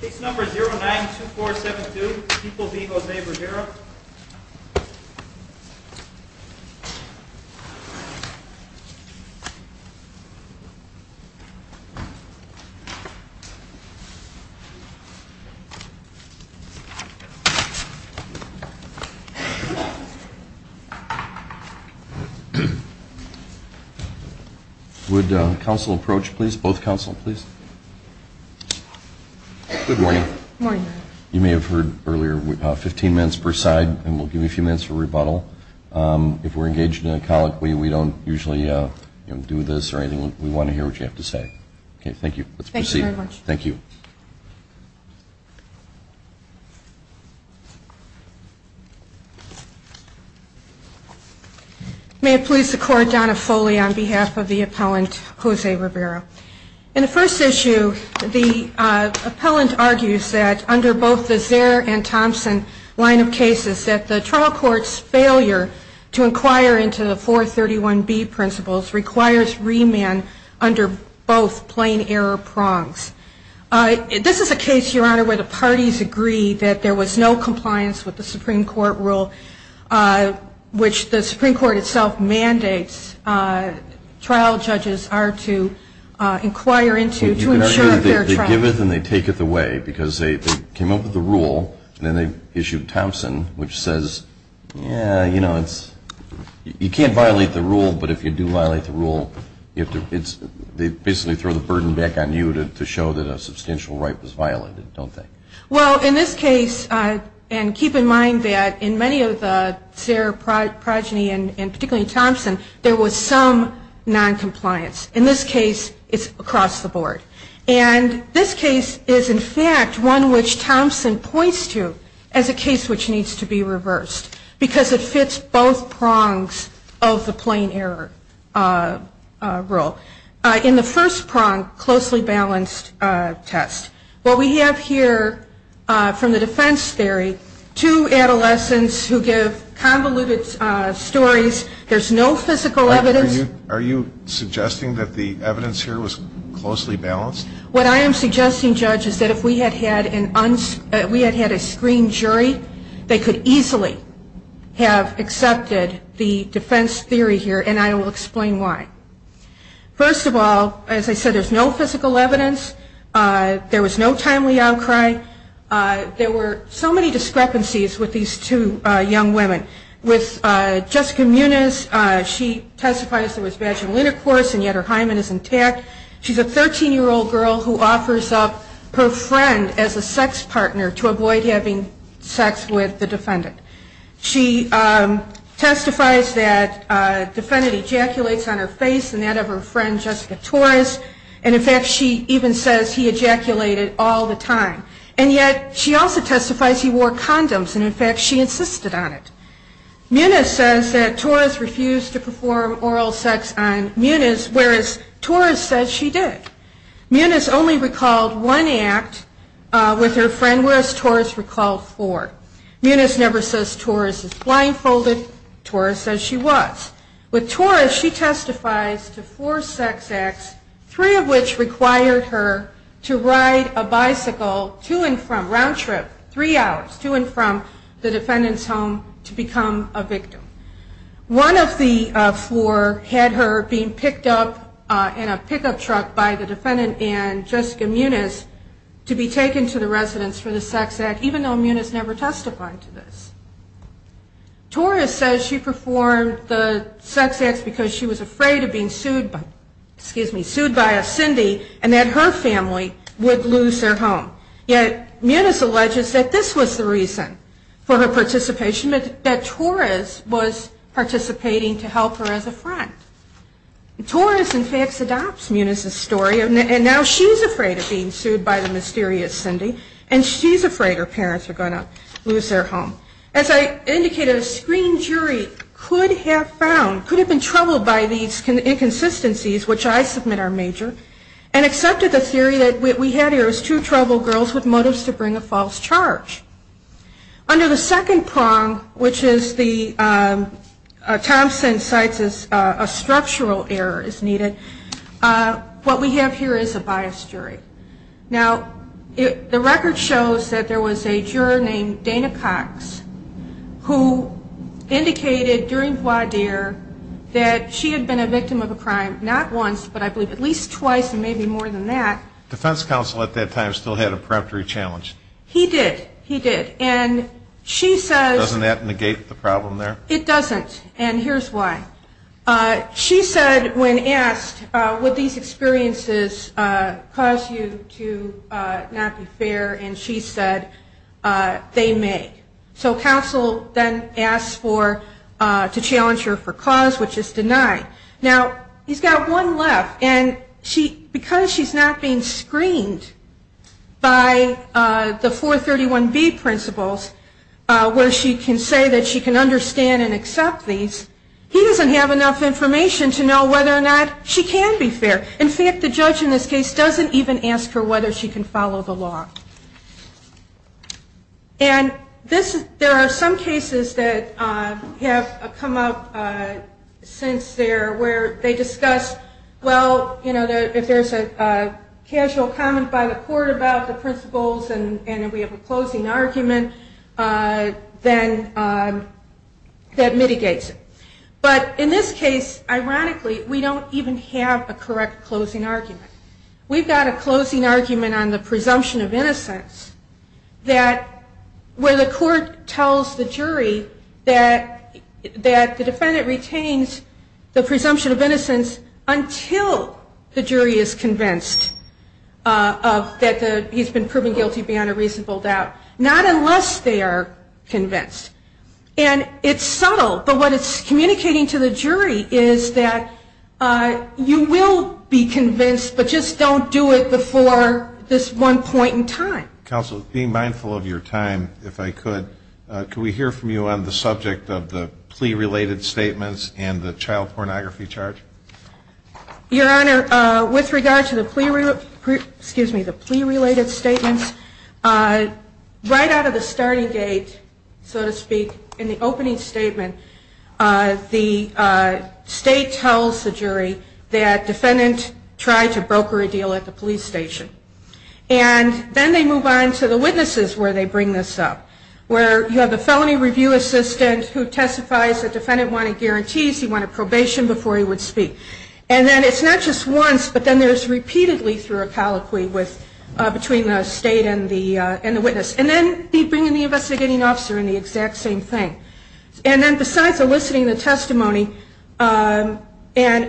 Case number 09-2472, people v. Jose Rivera. Would counsel approach please, both counsel please. Good morning. You may have heard earlier we have 15 minutes per side and we'll give you a few minutes for rebuttal. If we're engaged in a colloquy, we don't usually do this or anything. We want to hear what you have to say. Okay, thank you. Let's proceed. Thank you very much. In the first issue, the appellant argues that under both the Zerr and Thompson line of cases, that the trial court's failure to inquire into the 431B principles requires remand under both plain error prongs. This is a case, Your Honor, where the parties agree that there was no compliance with the Supreme Court rule, which the Supreme Court itself mandates trial judges are required to comply with. So you can argue they give it and they take it away because they came up with the rule and then they issued Thompson, which says, yeah, you know, you can't violate the rule, but if you do violate the rule, they basically throw the burden back on you to show that a substantial right was violated, don't they? Well, in this case, and keep in mind that in many of the Zerr progeny and particularly Thompson, there was some noncompliance. In this case, it's across the board. And this case is, in fact, one which Thompson points to as a case which needs to be reversed because it fits both prongs of the plain error rule. In the first prong, closely balanced test, what we have here from the defense theory, two adolescents who give convoluted stories, there's no physical evidence. Are you suggesting that the evidence here was closely balanced? What I am suggesting, Judge, is that if we had had a screen jury, they could easily have accepted the defense theory here, and I will explain why. First of all, as I said, there's no physical evidence. There was no timely outcry. There were so many discrepancies with these two young women. With Jessica Muniz, she testifies there was vaginal intercourse and yet her hymen is intact. She's a 13-year-old girl who offers up her friend as a sex partner to avoid having sex with the defendant. She testifies that the defendant ejaculates on her face and that of her friend, Jessica Torres, and in fact, she even says he ejaculated all the time. And yet she also testifies he wore condoms, and in fact, she insisted on it. Muniz says that Torres refused to perform oral sex on Muniz, whereas Torres says she did. Muniz only recalled one act with her friend, whereas Torres recalled four. Muniz never says Torres is blindfolded. Torres says she was. With Torres, she testifies to four sex acts, three of which required her to ride a bicycle to and from, round trip, three hours, to and from the defendant's home to become a victim. One of the four had her being picked up in a pickup truck by the defendant and Jessica Muniz to be taken to the residence for the sex act, even though Muniz never testified to this. Torres says she performed the sex acts because she was afraid of being sued by a Cindy and that her family would lose their home. Yet Muniz alleges that this was the reason for her participation, that Torres was participating to help her as a friend. Torres, in fact, adopts Muniz's story, and now she's afraid of being sued by the mysterious Cindy, and she's afraid her parents are going to lose their home. As I indicated, a screen jury could have been troubled by these inconsistencies, which I submit are major, and accepted the theory that we had here as two troubled girls with motives to bring a false charge. Under the second prong, which Thompson cites as a structural error is needed, what we have here is a biased jury. Now, the record shows that there was a juror named Dana Cox who indicated during voir dire that she had been a victim of a crime not once, but I believe at least twice and maybe more than that. Defense counsel at that time still had a preemptory challenge. He did, he did, and she says... Doesn't that negate the problem there? It doesn't, and here's why. She said when asked, would these experiences cause you to not be fair, and she said, they may. So counsel then asks to challenge her for cause, which is denied. Now, he's got one left, and because she's not being screened by the 431B principles where she can say that she can understand and accept these, he doesn't have enough information to know whether or not she can be fair. In fact, the judge in this case doesn't even ask her whether she can follow the law. And there are some cases that have come up since there where they discuss, well, you know, if there's a casual comment by the court about the principles and we have a closing argument, then that mitigates it. But in this case, ironically, we don't even have a correct closing argument. We've got a closing argument on the presumption of innocence that where the court tells the jury that the defendant retains the presumption of innocence until the jury is convinced that he's been proven guilty beyond a reasonable doubt. Not unless they are convinced. And it's subtle, but what it's communicating to the jury is that you will be convinced, but just don't do it before this one point in time. Counsel, being mindful of your time, if I could, could we hear from you on the subject of the plea-related statements and the child pornography charge? Your Honor, with regard to the plea-related statements, right out of the starting gate, so to speak, of the plea-related statements, there are three, so to speak, in the opening statement, the state tells the jury that defendant tried to broker a deal at the police station. And then they move on to the witnesses where they bring this up. Where you have the felony review assistant who testifies that defendant wanted guarantees, he wanted probation before he would speak. And then it's not just once, but then there's repeatedly through a colloquy between the state and the witness. And then they bring in the investigating officer and the exact same thing. And then besides eliciting the testimony and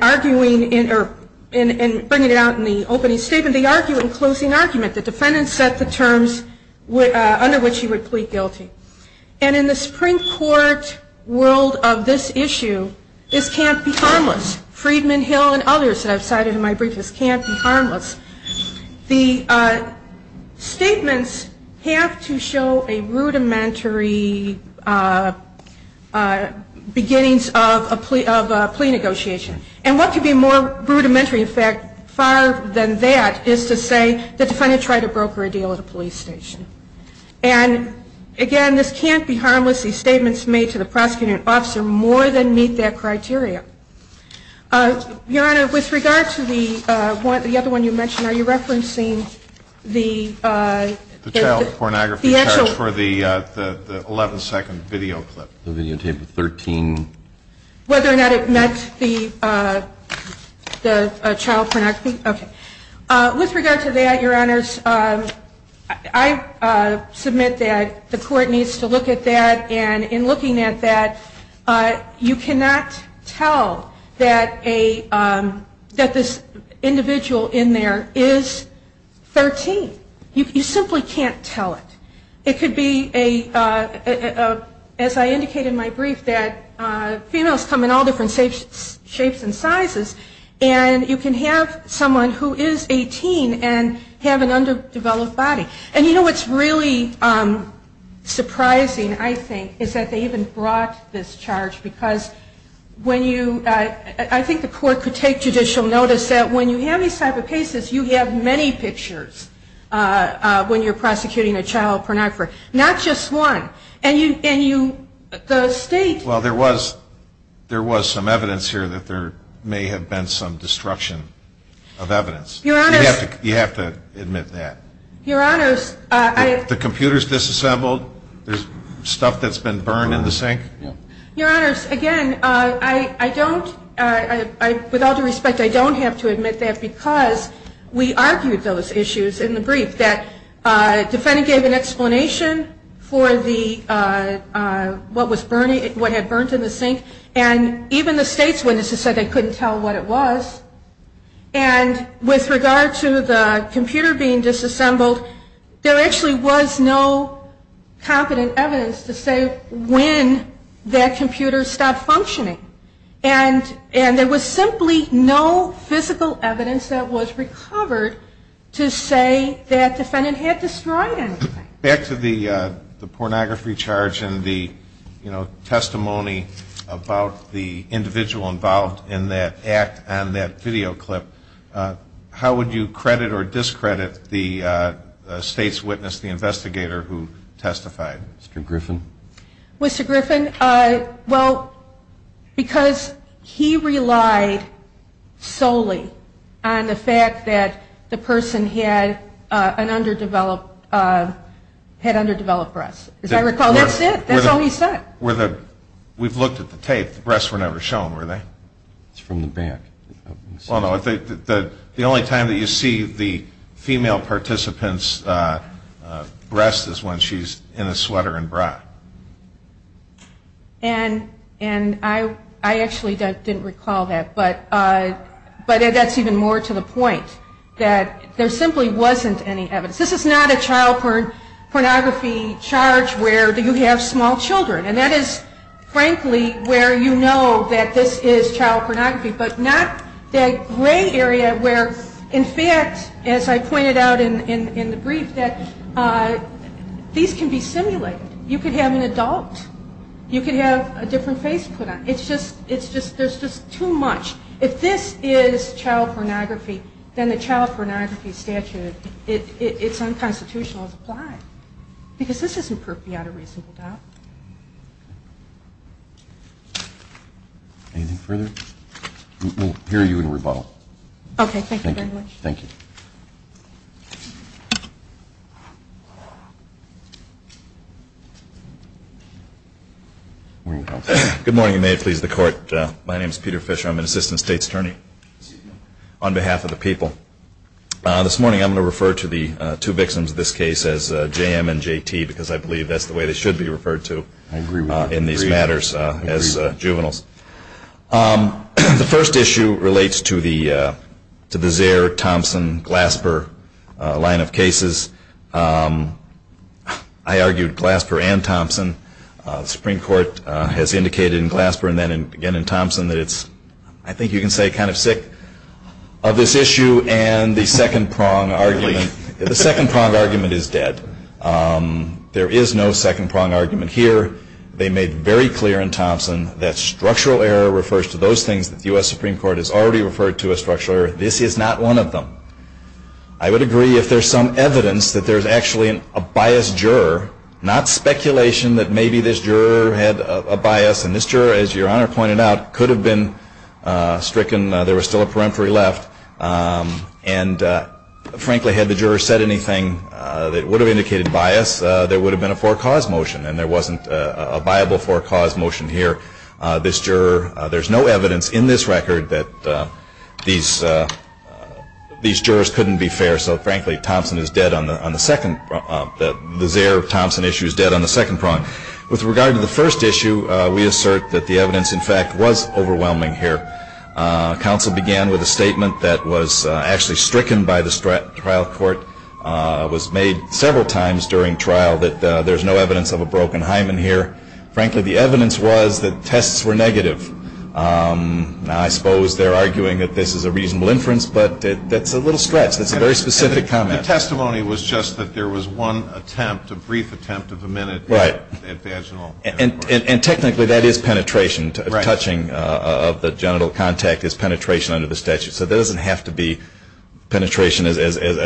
arguing, or bringing it out in the opening statement, they argue in closing argument. The defendant set the terms under which he would plead guilty. And in the Supreme Court world of this issue, this can't be harmless. Friedman, Hill, and others that I've cited in my brief, this can't be harmless. The statements have to show a rudimentary beginnings of a plea negotiation. And what could be more rudimentary, in fact, far than that, is to say the defendant tried to broker a deal at a police station. And again, this can't be harmless. These statements made to the prosecuting officer more than meet that criteria. Your Honor, with regard to the other one you mentioned, are you referencing the actual? The child pornography charge for the 11-second video clip. The video tape of 13. Whether or not it met the child pornography? Okay. With regard to that, Your Honors, I submit that the court needs to look at that. And in looking at that, you cannot tell that this individual in there is 13. You simply can't tell it. It could be, as I indicated in my brief, that females come in all different shapes and sizes, and you can have someone who is 18 and have an underdeveloped body. And you know what's really surprising, I think, is that they even brought this charge because when you, I think the court could take judicial notice that when you have these type of cases, you have many pictures when you're prosecuting a child pornography. Not just one. Well, there was some evidence here that there may have been some destruction of evidence. You have to admit that. The computer's disassembled? There's stuff that's been burned in the sink? Your Honors, again, I don't, with all due respect, I don't have to admit that because we argued those issues in the brief, that the defendant gave an explanation for what had burned in the sink, and even the state's witnesses said they couldn't tell what it was. And with regard to the computer being disassembled, there actually was no competent evidence to say when that computer stopped functioning. And there was simply no physical evidence that was recovered to say that defendant had destroyed anything. Back to the pornography charge and the testimony about the individual involved in that act on that particular day. In that video clip, how would you credit or discredit the state's witness, the investigator who testified? Mr. Griffin? Well, because he relied solely on the fact that the person had an underdeveloped, had underdeveloped breasts. As I recall, that's it. That's all he said. We've looked at the tape. The breasts were never shown, were they? It's from the back. Well, no, the only time that you see the female participant's breasts is when she's in a sweater and bra. And I actually didn't recall that, but that's even more to the point, that there simply wasn't any evidence. This is not a child pornography charge where you have small children. And that is, frankly, where you know that this is child pornography, but not that gray area where, in fact, as I pointed out in the brief, that these can be simulated. You could have an adult. You could have a different face put on. There's just too much. If this is child pornography, then the child pornography statute, it's unconstitutional as applied. Because this doesn't prove to be out of reasonable doubt. Anything further? We'll hear you in rebuttal. Okay. Thank you very much. Thank you. Good morning. May it please the Court. My name is Peter Fisher. I'm an Assistant State's Attorney. On behalf of the people. This morning I'm going to refer to the two victims of this case as JM and JT, because I believe that's the way they should be referred to in these matters as juveniles. The first issue relates to the Zaire, Thompson, Glasper line of cases. I argued Glasper and Thompson. The Supreme Court has indicated in Glasper and then again in Thompson that it's, I think you can say, kind of sick of this issue. And the second prong argument, the second prong argument is dead. There is no second prong argument here. They made very clear in Thompson that structural error refers to those things that the U.S. Supreme Court has already referred to as structural error. This is not one of them. I would agree if there's some evidence that there's actually a biased juror, not speculation that maybe this juror had a bias, and this juror, as Your Honor pointed out, could have been stricken, there was still a peremptory left. And frankly, had the juror said anything that would have indicated bias, there would have been a for-cause motion, and there wasn't a viable for-cause motion here. This juror, there's no evidence in this record that these jurors couldn't be fair, so frankly, Thompson is dead on the second, the Zaire-Thompson issue is dead on the second prong. With regard to the first issue, we assert that the evidence, in fact, was overwhelming here. Counsel began with a statement that was actually stricken by the trial court, was made several times during trial, that there's no evidence of a broken hymen here. Frankly, the evidence was that tests were negative. Now, I suppose they're arguing that this is a reasonable inference, but that's a little stretch. That's a very specific comment. And the testimony was just that there was one attempt, a brief attempt of a minute at vaginal... Right. And technically, that is penetration, touching of the genital contact is penetration under the statute, so there doesn't have to be penetration as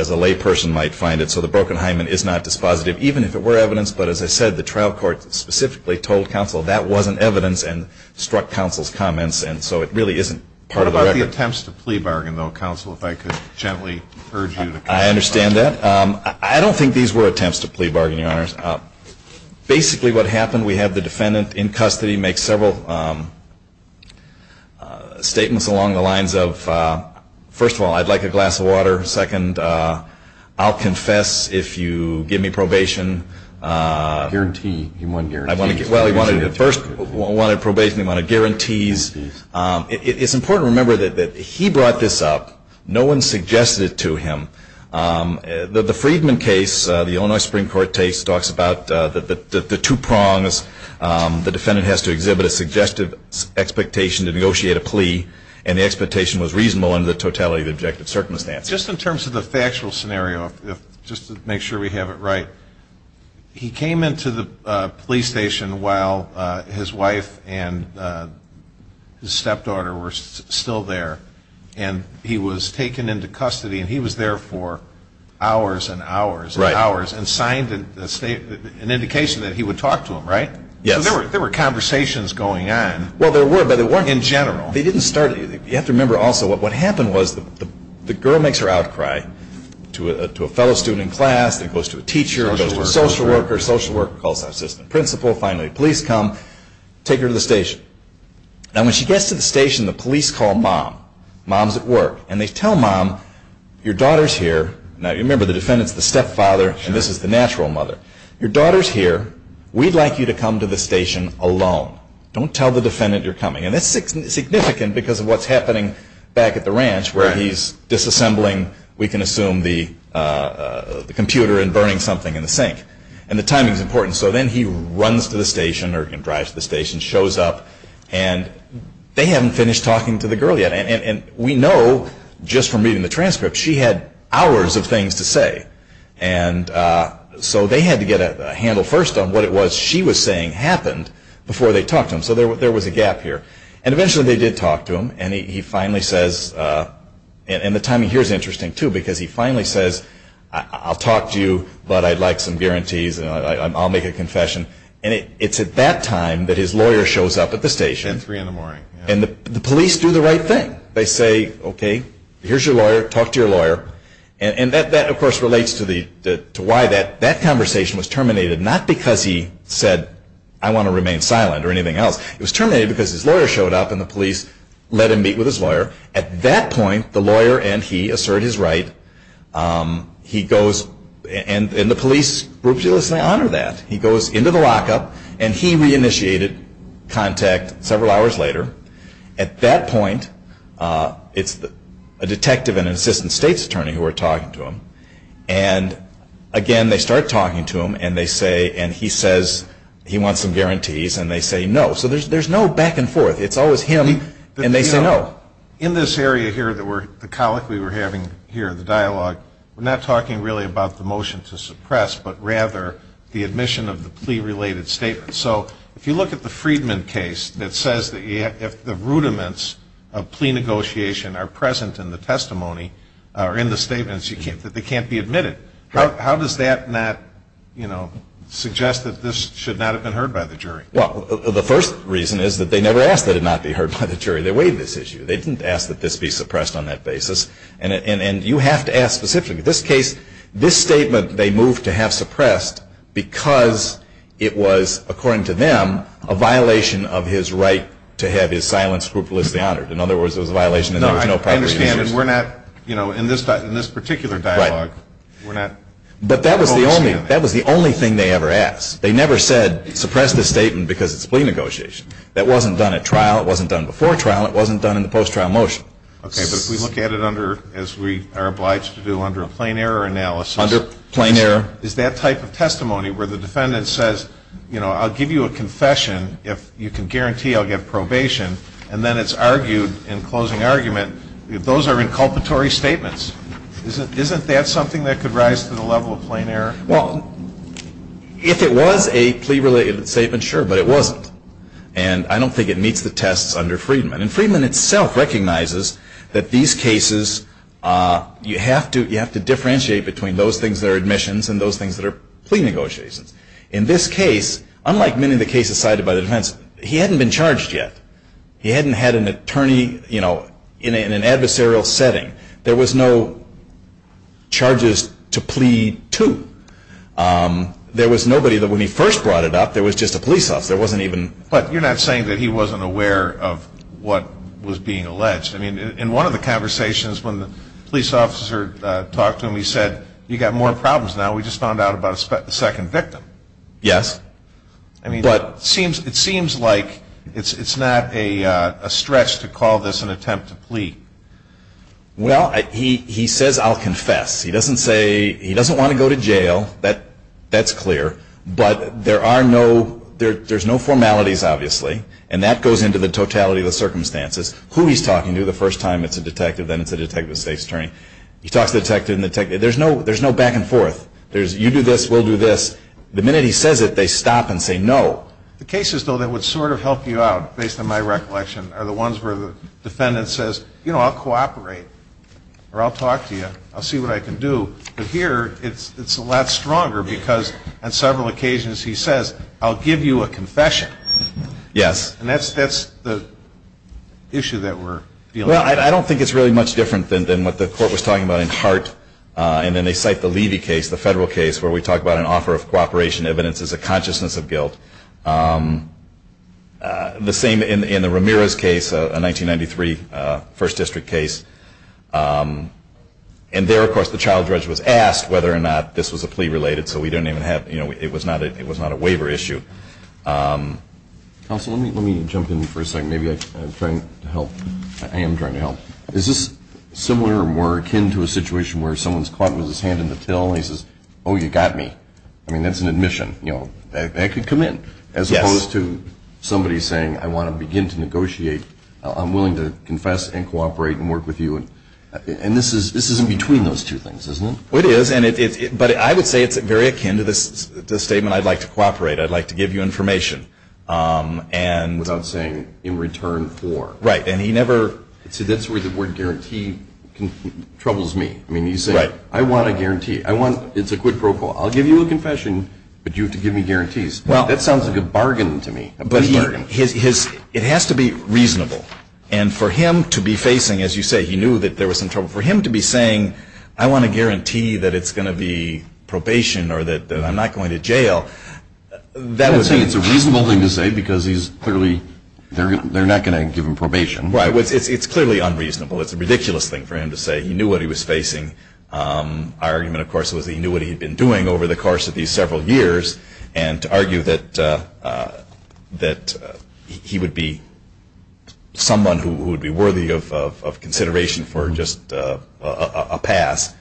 a lay person might find it. So the broken hymen is not dispositive, even if it were evidence, but as I said, the trial court specifically told counsel that wasn't evidence and struck counsel's comments, and so it really isn't part of the record. What about the attempts to plea bargain, though, counsel, if I could gently urge you to comment on that? I understand that. I don't think these were attempts to plea bargain, Your Honors. Basically what happened, we have the defendant in custody, make several statements along the lines of, first of all, I'd like a glass of water. Second, I'll confess if you give me probation. Guarantee, he wanted guarantees. Well, he wanted probation, he wanted guarantees. It's important to remember that he brought this up, no one suggested it to him. The Freedman case, the Illinois Supreme Court case, talks about the two prongs, the defendant has to exhibit a suggestive expectation to negotiate a plea, and the expectation was reasonable under the totality of the objective circumstances. Just in terms of the factual scenario, just to make sure we have it right, he came into the police station while his wife and his stepdaughter were still there, and he was taken into custody, and he was there for a period of time. He was there for hours and hours and hours, and signed an indication that he would talk to them, right? There were conversations going on. Well, there were, but they weren't in general. You have to remember also, what happened was, the girl makes her outcry to a fellow student in class, it goes to a teacher, it goes to a social worker, the social worker calls the assistant principal, finally the police come, take her to the station. Now when she gets to the station, the police call mom. Mom's at work, and they tell mom, your daughter's here, now remember the defendant's the stepfather, and this is the natural mother, your daughter's here, we'd like you to come to the station alone. Don't tell the defendant you're coming, and that's significant because of what's happening back at the ranch, where he's disassembling, we can assume, the computer and burning something in the sink. And the timing's important, so then he runs to the station, or drives to the station, shows up, and they haven't finished talking to the girl yet. And we know, just from reading the transcript, she had hours of things to say, and so they had to get a handle first on what it was she was saying happened before they talked to him, so there was a gap here. And eventually they did talk to him, and he finally says, and the timing here's interesting too, because he finally says, I'll talk to you, but I'd like some guarantees, and I'll make a confession. And it's at that time that his lawyer shows up at the station. And the police do the right thing, they say, okay, here's your lawyer, talk to your lawyer, and that, of course, relates to why that conversation was terminated. Not because he said, I want to remain silent or anything else, it was terminated because his lawyer showed up and the police let him meet with his lawyer. At that point, the lawyer and he assert his right, he goes, and the police scrupulously honor that, he goes into the lockup, and he reinitiated contact several times. And then several hours later, at that point, it's a detective and an assistant state's attorney who are talking to him, and again, they start talking to him, and they say, and he says, he wants some guarantees, and they say no. So there's no back and forth, it's always him, and they say no. In this area here, the colic we were having here, the dialogue, we're not talking really about the motion to suppress, but rather the admission of the plea-related statement. So if you look at the Friedman case that says that if the rudiments of plea negotiation are present in the testimony, or in the statements, that they can't be admitted. How does that not, you know, suggest that this should not have been heard by the jury? Well, the first reason is that they never asked that it not be heard by the jury. They waived this issue. They didn't ask that this be suppressed on that basis, and you have to ask specifically. In this case, this statement they moved to have suppressed because it was, according to them, a violation of his right to have his silence scrupulously honored. In other words, it was a violation, and there was no prior... No, I understand, and we're not, you know, in this particular dialogue, we're not... But that was the only, that was the only thing they ever asked. They never said suppress this statement because it's plea negotiation. That wasn't done at trial, it wasn't done before trial, it wasn't done in the post-trial motion. Okay, but if we look at it under, as we are obliged to do under a plain error analysis... Under plain error. Is that type of testimony where the defendant says, you know, I'll give you a confession, if you can guarantee I'll get probation, and then it's argued in closing argument, those are inculpatory statements. Isn't that something that could rise to the level of plain error? Well, if it was a plea-related statement, sure, but it wasn't, and I don't think it meets the tests under Friedman. And Friedman itself recognizes that these cases, you have to differentiate between those things that are admissions and those things that are plea negotiations. In this case, unlike many of the cases cited by the defense, he hadn't been charged yet. He hadn't had an attorney, you know, in an adversarial setting. There was no charges to plead to. There was nobody that when he first brought it up, there was just a police officer, there wasn't even... There wasn't even a plea to plead to what was being alleged. I mean, in one of the conversations, when the police officer talked to him, he said, you've got more problems now, we just found out about a second victim. Yes. I mean, it seems like it's not a stretch to call this an attempt to plea. Well, he says, I'll confess. He doesn't say, he doesn't want to go to jail, that's clear, but there are no, there's no formalities, obviously, and that goes into the totality of the circumstances. Who he's talking to, the first time it's a detective, then it's a detective state attorney. He talks to the detective and the detective, there's no back and forth. There's, you do this, we'll do this. The minute he says it, they stop and say no. The cases, though, that would sort of help you out, based on my recollection, are the ones where the defendant says, you know, I'll cooperate, or I'll talk to you, I'll see what I can do. But here, it's a lot stronger because on several occasions he says, I'll give you a confession. Yes. And that's the issue that we're dealing with. Well, I don't think it's really much different than what the court was talking about in Hart, and then they cite the Levy case, the federal case, where we talk about an offer of cooperation evidence as a consciousness of guilt. The same in the Ramirez case, a 1993 First District case. And there, of course, the child judge was asked whether or not this was a plea related, so we didn't even have, you know, it was not a waiver issue. Counsel, let me jump in for a second. Maybe I'm trying to help. I am trying to help. Is this similar or more akin to a situation where someone's caught with his hand in the till, and he says, oh, you got me. I mean, that's an admission. You know, that could come in. Yes. As opposed to somebody saying, I want to begin to negotiate, I'm willing to confess and cooperate and work with you. And this is in between those two things, isn't it? It is, but I would say it's very akin to the statement, I'd like to cooperate, I'd like to give you information. Without saying, in return for. Right. And he never... See, that's where the word guarantee troubles me. I mean, you say, I want a guarantee. It's a quid pro quo. I'll give you a confession, but you have to give me guarantees. That sounds like a bargain to me. It has to be reasonable. And for him to be facing, as you say, he knew that there was some trouble. For him to be saying, I want a guarantee that it's going to be probation or that I'm not going to jail, that would be... I would say it's a reasonable thing to say because he's clearly... They're not going to give him probation. Right. It's clearly unreasonable. It's a ridiculous thing for him to say. He knew what he was facing. Our argument, of course, was that he knew what he had been doing over the course of these several years. And to argue that he would be someone who would be worthy of consideration for just a pass.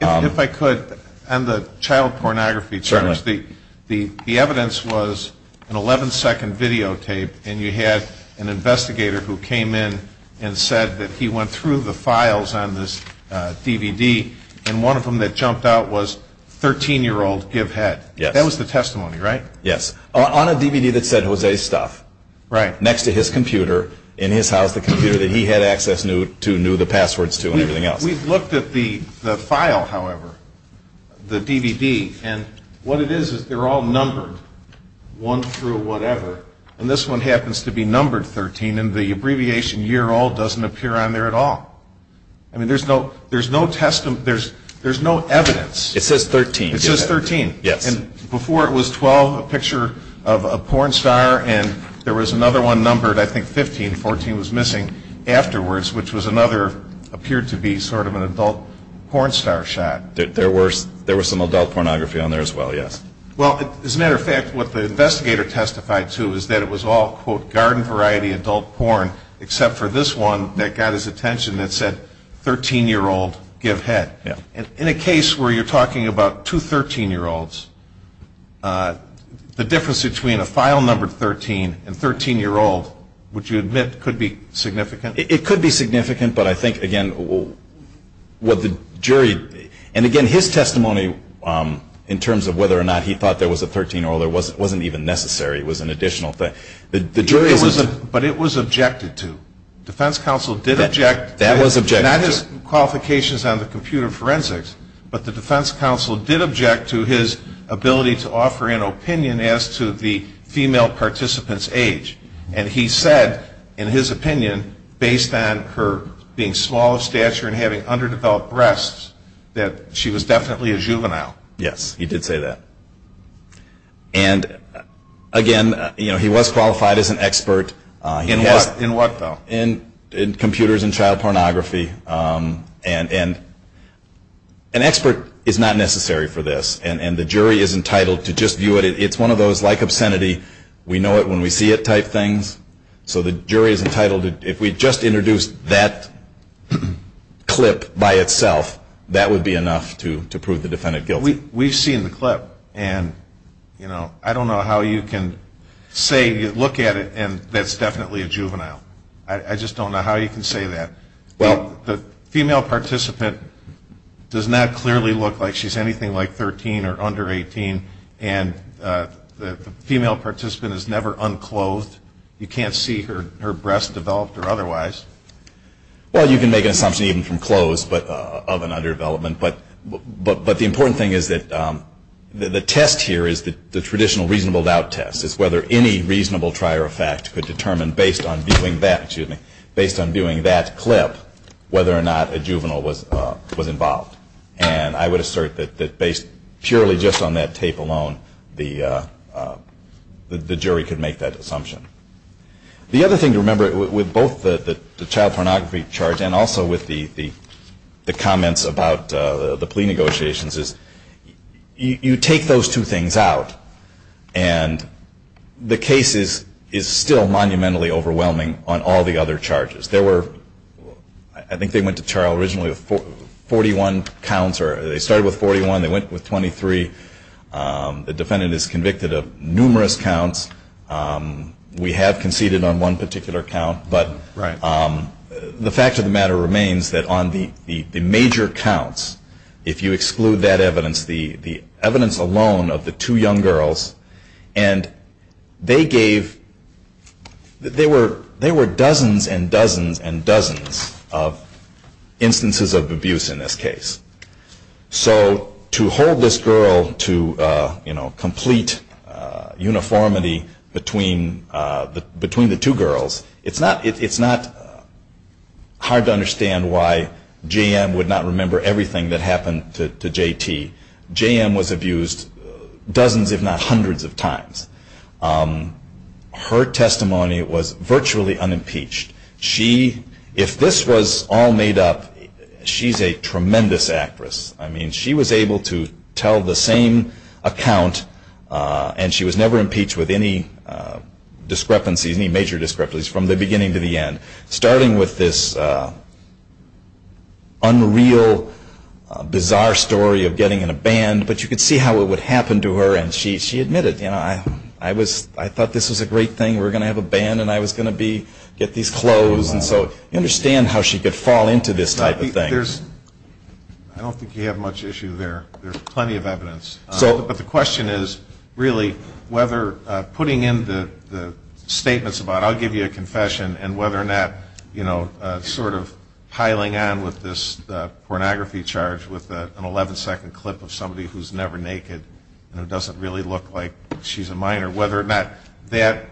If I could, on the child pornography charge. Certainly. The evidence was an 11-second videotape. And you had an investigator who came in and said that he went through the files on this DVD. And one of them that jumped out was 13-year-old Give Head. Yes. That was the testimony, right? Yes. On a DVD that said Jose's stuff. Right. Next to his computer, in his house, the computer that he had access to knew the passwords to and everything else. We looked at the file, however, the DVD. And what it is is they're all numbered, one through whatever. And this one happens to be numbered 13. And the abbreviation, year old, doesn't appear on there at all. I mean, there's no evidence. It says 13. It says 13. Yes. And before it was 12, a picture of a porn star. And there was another one numbered, I think, 15. 14 was missing afterwards, which was another, appeared to be sort of an adult porn star shot. There was some adult pornography on there as well, yes. Well, as a matter of fact, what the investigator testified to is that it was all, quote, garden variety adult porn, except for this one that got his attention that said, 13-year-old Give Head. Yes. In a case where you're talking about two 13-year-olds, the difference between a file numbered 13 and 13-year-old, would you admit, could be significant? It could be significant, but I think, again, what the jury, and again, his testimony, in terms of whether or not he thought there was a 13-year-old, it wasn't even necessary. It was an additional thing. But it was objected to. Defense counsel did object. That was objected to. Not his qualifications on the computer forensics, but the defense counsel did object to his ability to offer an opinion as to the female participant's age. And he said, in his opinion, based on her being small in stature and having underdeveloped breasts, that she was definitely a juvenile. Yes, he did say that. And, again, he was qualified as an expert. In what, though? In computers and child pornography. And an expert is not necessary for this. And the jury is entitled to just view it. It's one of those, like obscenity, we know it when we see it type things. So the jury is entitled, if we just introduced that clip by itself, that would be enough to prove the defendant guilty. We've seen the clip. And I don't know how you can say, look at it, and that's definitely a juvenile. I just don't know how you can say that. Well, the female participant does not clearly look like she's anything like 13 or under 18. And the female participant is never unclothed. You can't see her breasts developed or otherwise. Well, you can make an assumption even from clothes, but of an underdevelopment. But the important thing is that the test here is the traditional reasonable doubt test. It's whether any reasonable trier of fact could determine based on viewing that clip whether or not a juvenile was involved. And I would assert that based purely just on that tape alone, the jury could make that assumption. The other thing to remember with both the child pornography charge and also with the comments about the plea negotiations is you take those two things out and the case is still monumentally overwhelming on all the other charges. I think they went to trial originally with 41 counts. They started with 41. They went with 23. The defendant is convicted of numerous counts. We have conceded on one particular count. But the fact of the matter remains that on the major counts, if you exclude that evidence, the evidence alone of the two young girls, and they gave, there were dozens and dozens and dozens of instances of abuse in this case. So to hold this girl to complete uniformity between the two girls, it's not hard to understand why JM would not remember everything that happened to JT. JM was abused dozens if not hundreds of times. Her testimony was virtually unimpeached. If this was all made up, she's a tremendous actress. She was able to tell the same account and she was never impeached with any major discrepancies from the beginning to the end. Starting with this unreal, bizarre story of getting in a band. But you could see how it would happen to her and she admitted, I thought this was a great thing. We were going to have a band and I was going to get these clothes. You understand how she could fall into this type of thing. I don't think you have much issue there. There's plenty of evidence. But the question is really whether putting in the statements about I'll give you a confession and whether or not sort of piling on with this pornography charge with an 11 second clip of somebody who's never naked and doesn't really look like she's a minor whether or not that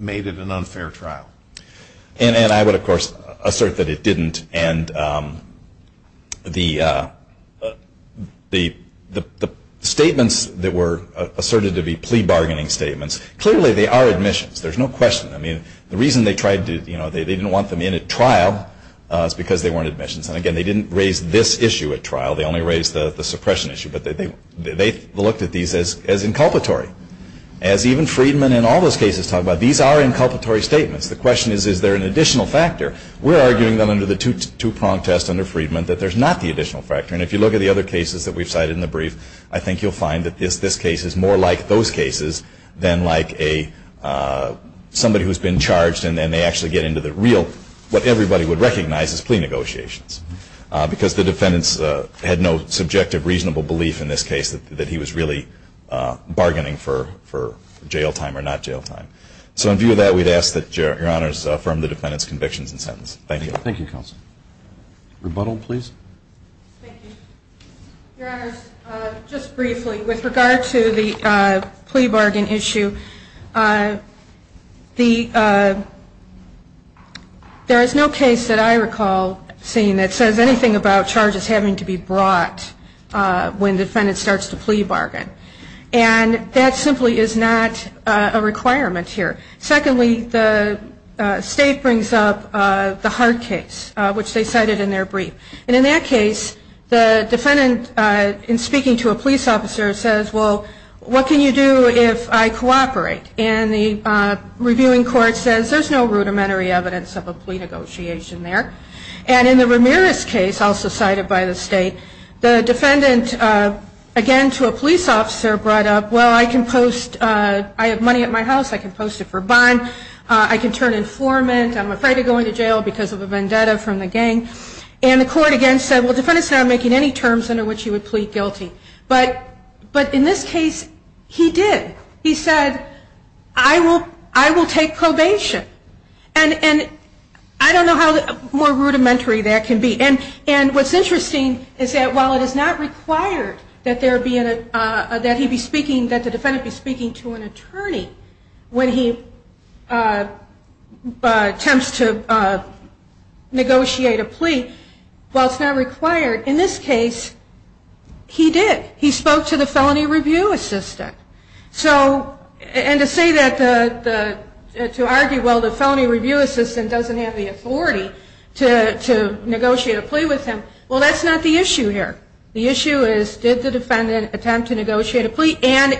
made it an unfair trial. And I would of course assert that it didn't. And the statements that were asserted to be plea bargaining statements clearly they are admissions. The reason they didn't want them in at trial is because they weren't admissions. And again they didn't raise this issue at trial they only raised the suppression issue. But they looked at these as inculpatory as even Friedman and all those cases talk about these are inculpatory statements. The question is is there an additional factor. We're arguing under the two prong test under Friedman that there's not the additional factor. And if you look at the other cases that we've cited in the brief I think you'll find that this case is more like those cases than like somebody who's been charged and they actually get into the real what everybody would recognize as plea negotiations. Because the defendants had no subjective reasonable belief in this case that he was really bargaining for jail time or not jail time. So in view of that we'd ask that your honors affirm the defendant's convictions and sentence. Thank you. Your honors, just briefly with regard to the plea bargain issue there is no case that I recall saying that says anything about charges having to be brought when the defendant starts the plea bargain. And that simply is not a requirement here. Secondly, the state brings up the Hart case which they cited in their brief. And in that case the defendant in speaking to a police officer says well what can you do if I cooperate? And the reviewing court says there's no rudimentary evidence of a plea negotiation there. And in the Ramirez case also cited by the state the defendant again to a police officer brought up well I have money at my house, I can post it for bond I can turn informant, I'm afraid of going to jail because of a vendetta from the gang. And the court again said well the defendant's not making any terms under which he would plead guilty. But in this case he did. He said I will take probation. And I don't know how more rudimentary that can be. And what's interesting is that while it is not required that the defendant be speaking to an attorney when he attempts to negotiate a plea while it's not required in this case he did. He spoke to the felony review assistant. And to say that, to argue well the felony review assistant doesn't have the authority to negotiate a plea with him well that's not the issue here. The issue is did the defendant attempt to negotiate a plea and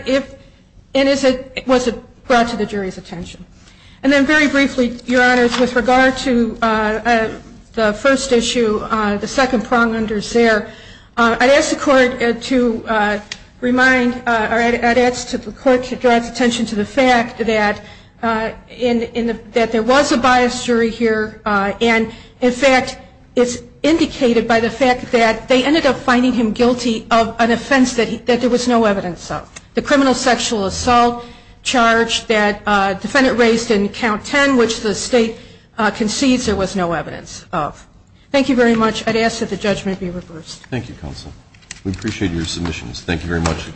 was it brought to the jury's attention. And then very briefly your honors with regard to the first issue the second prong under there I'd ask the court to remind I'd ask the court to draw attention to the fact that there was a biased jury here and in fact it's indicated by the fact that they ended up finding him guilty of an offense that there was no evidence of. The criminal sexual assault charge that defendant raised in count 10 which the state concedes there was no evidence of. Thank you very much. I'd ask that the judgment be reversed. Thank you counsel. We appreciate your submissions. Thank you very much.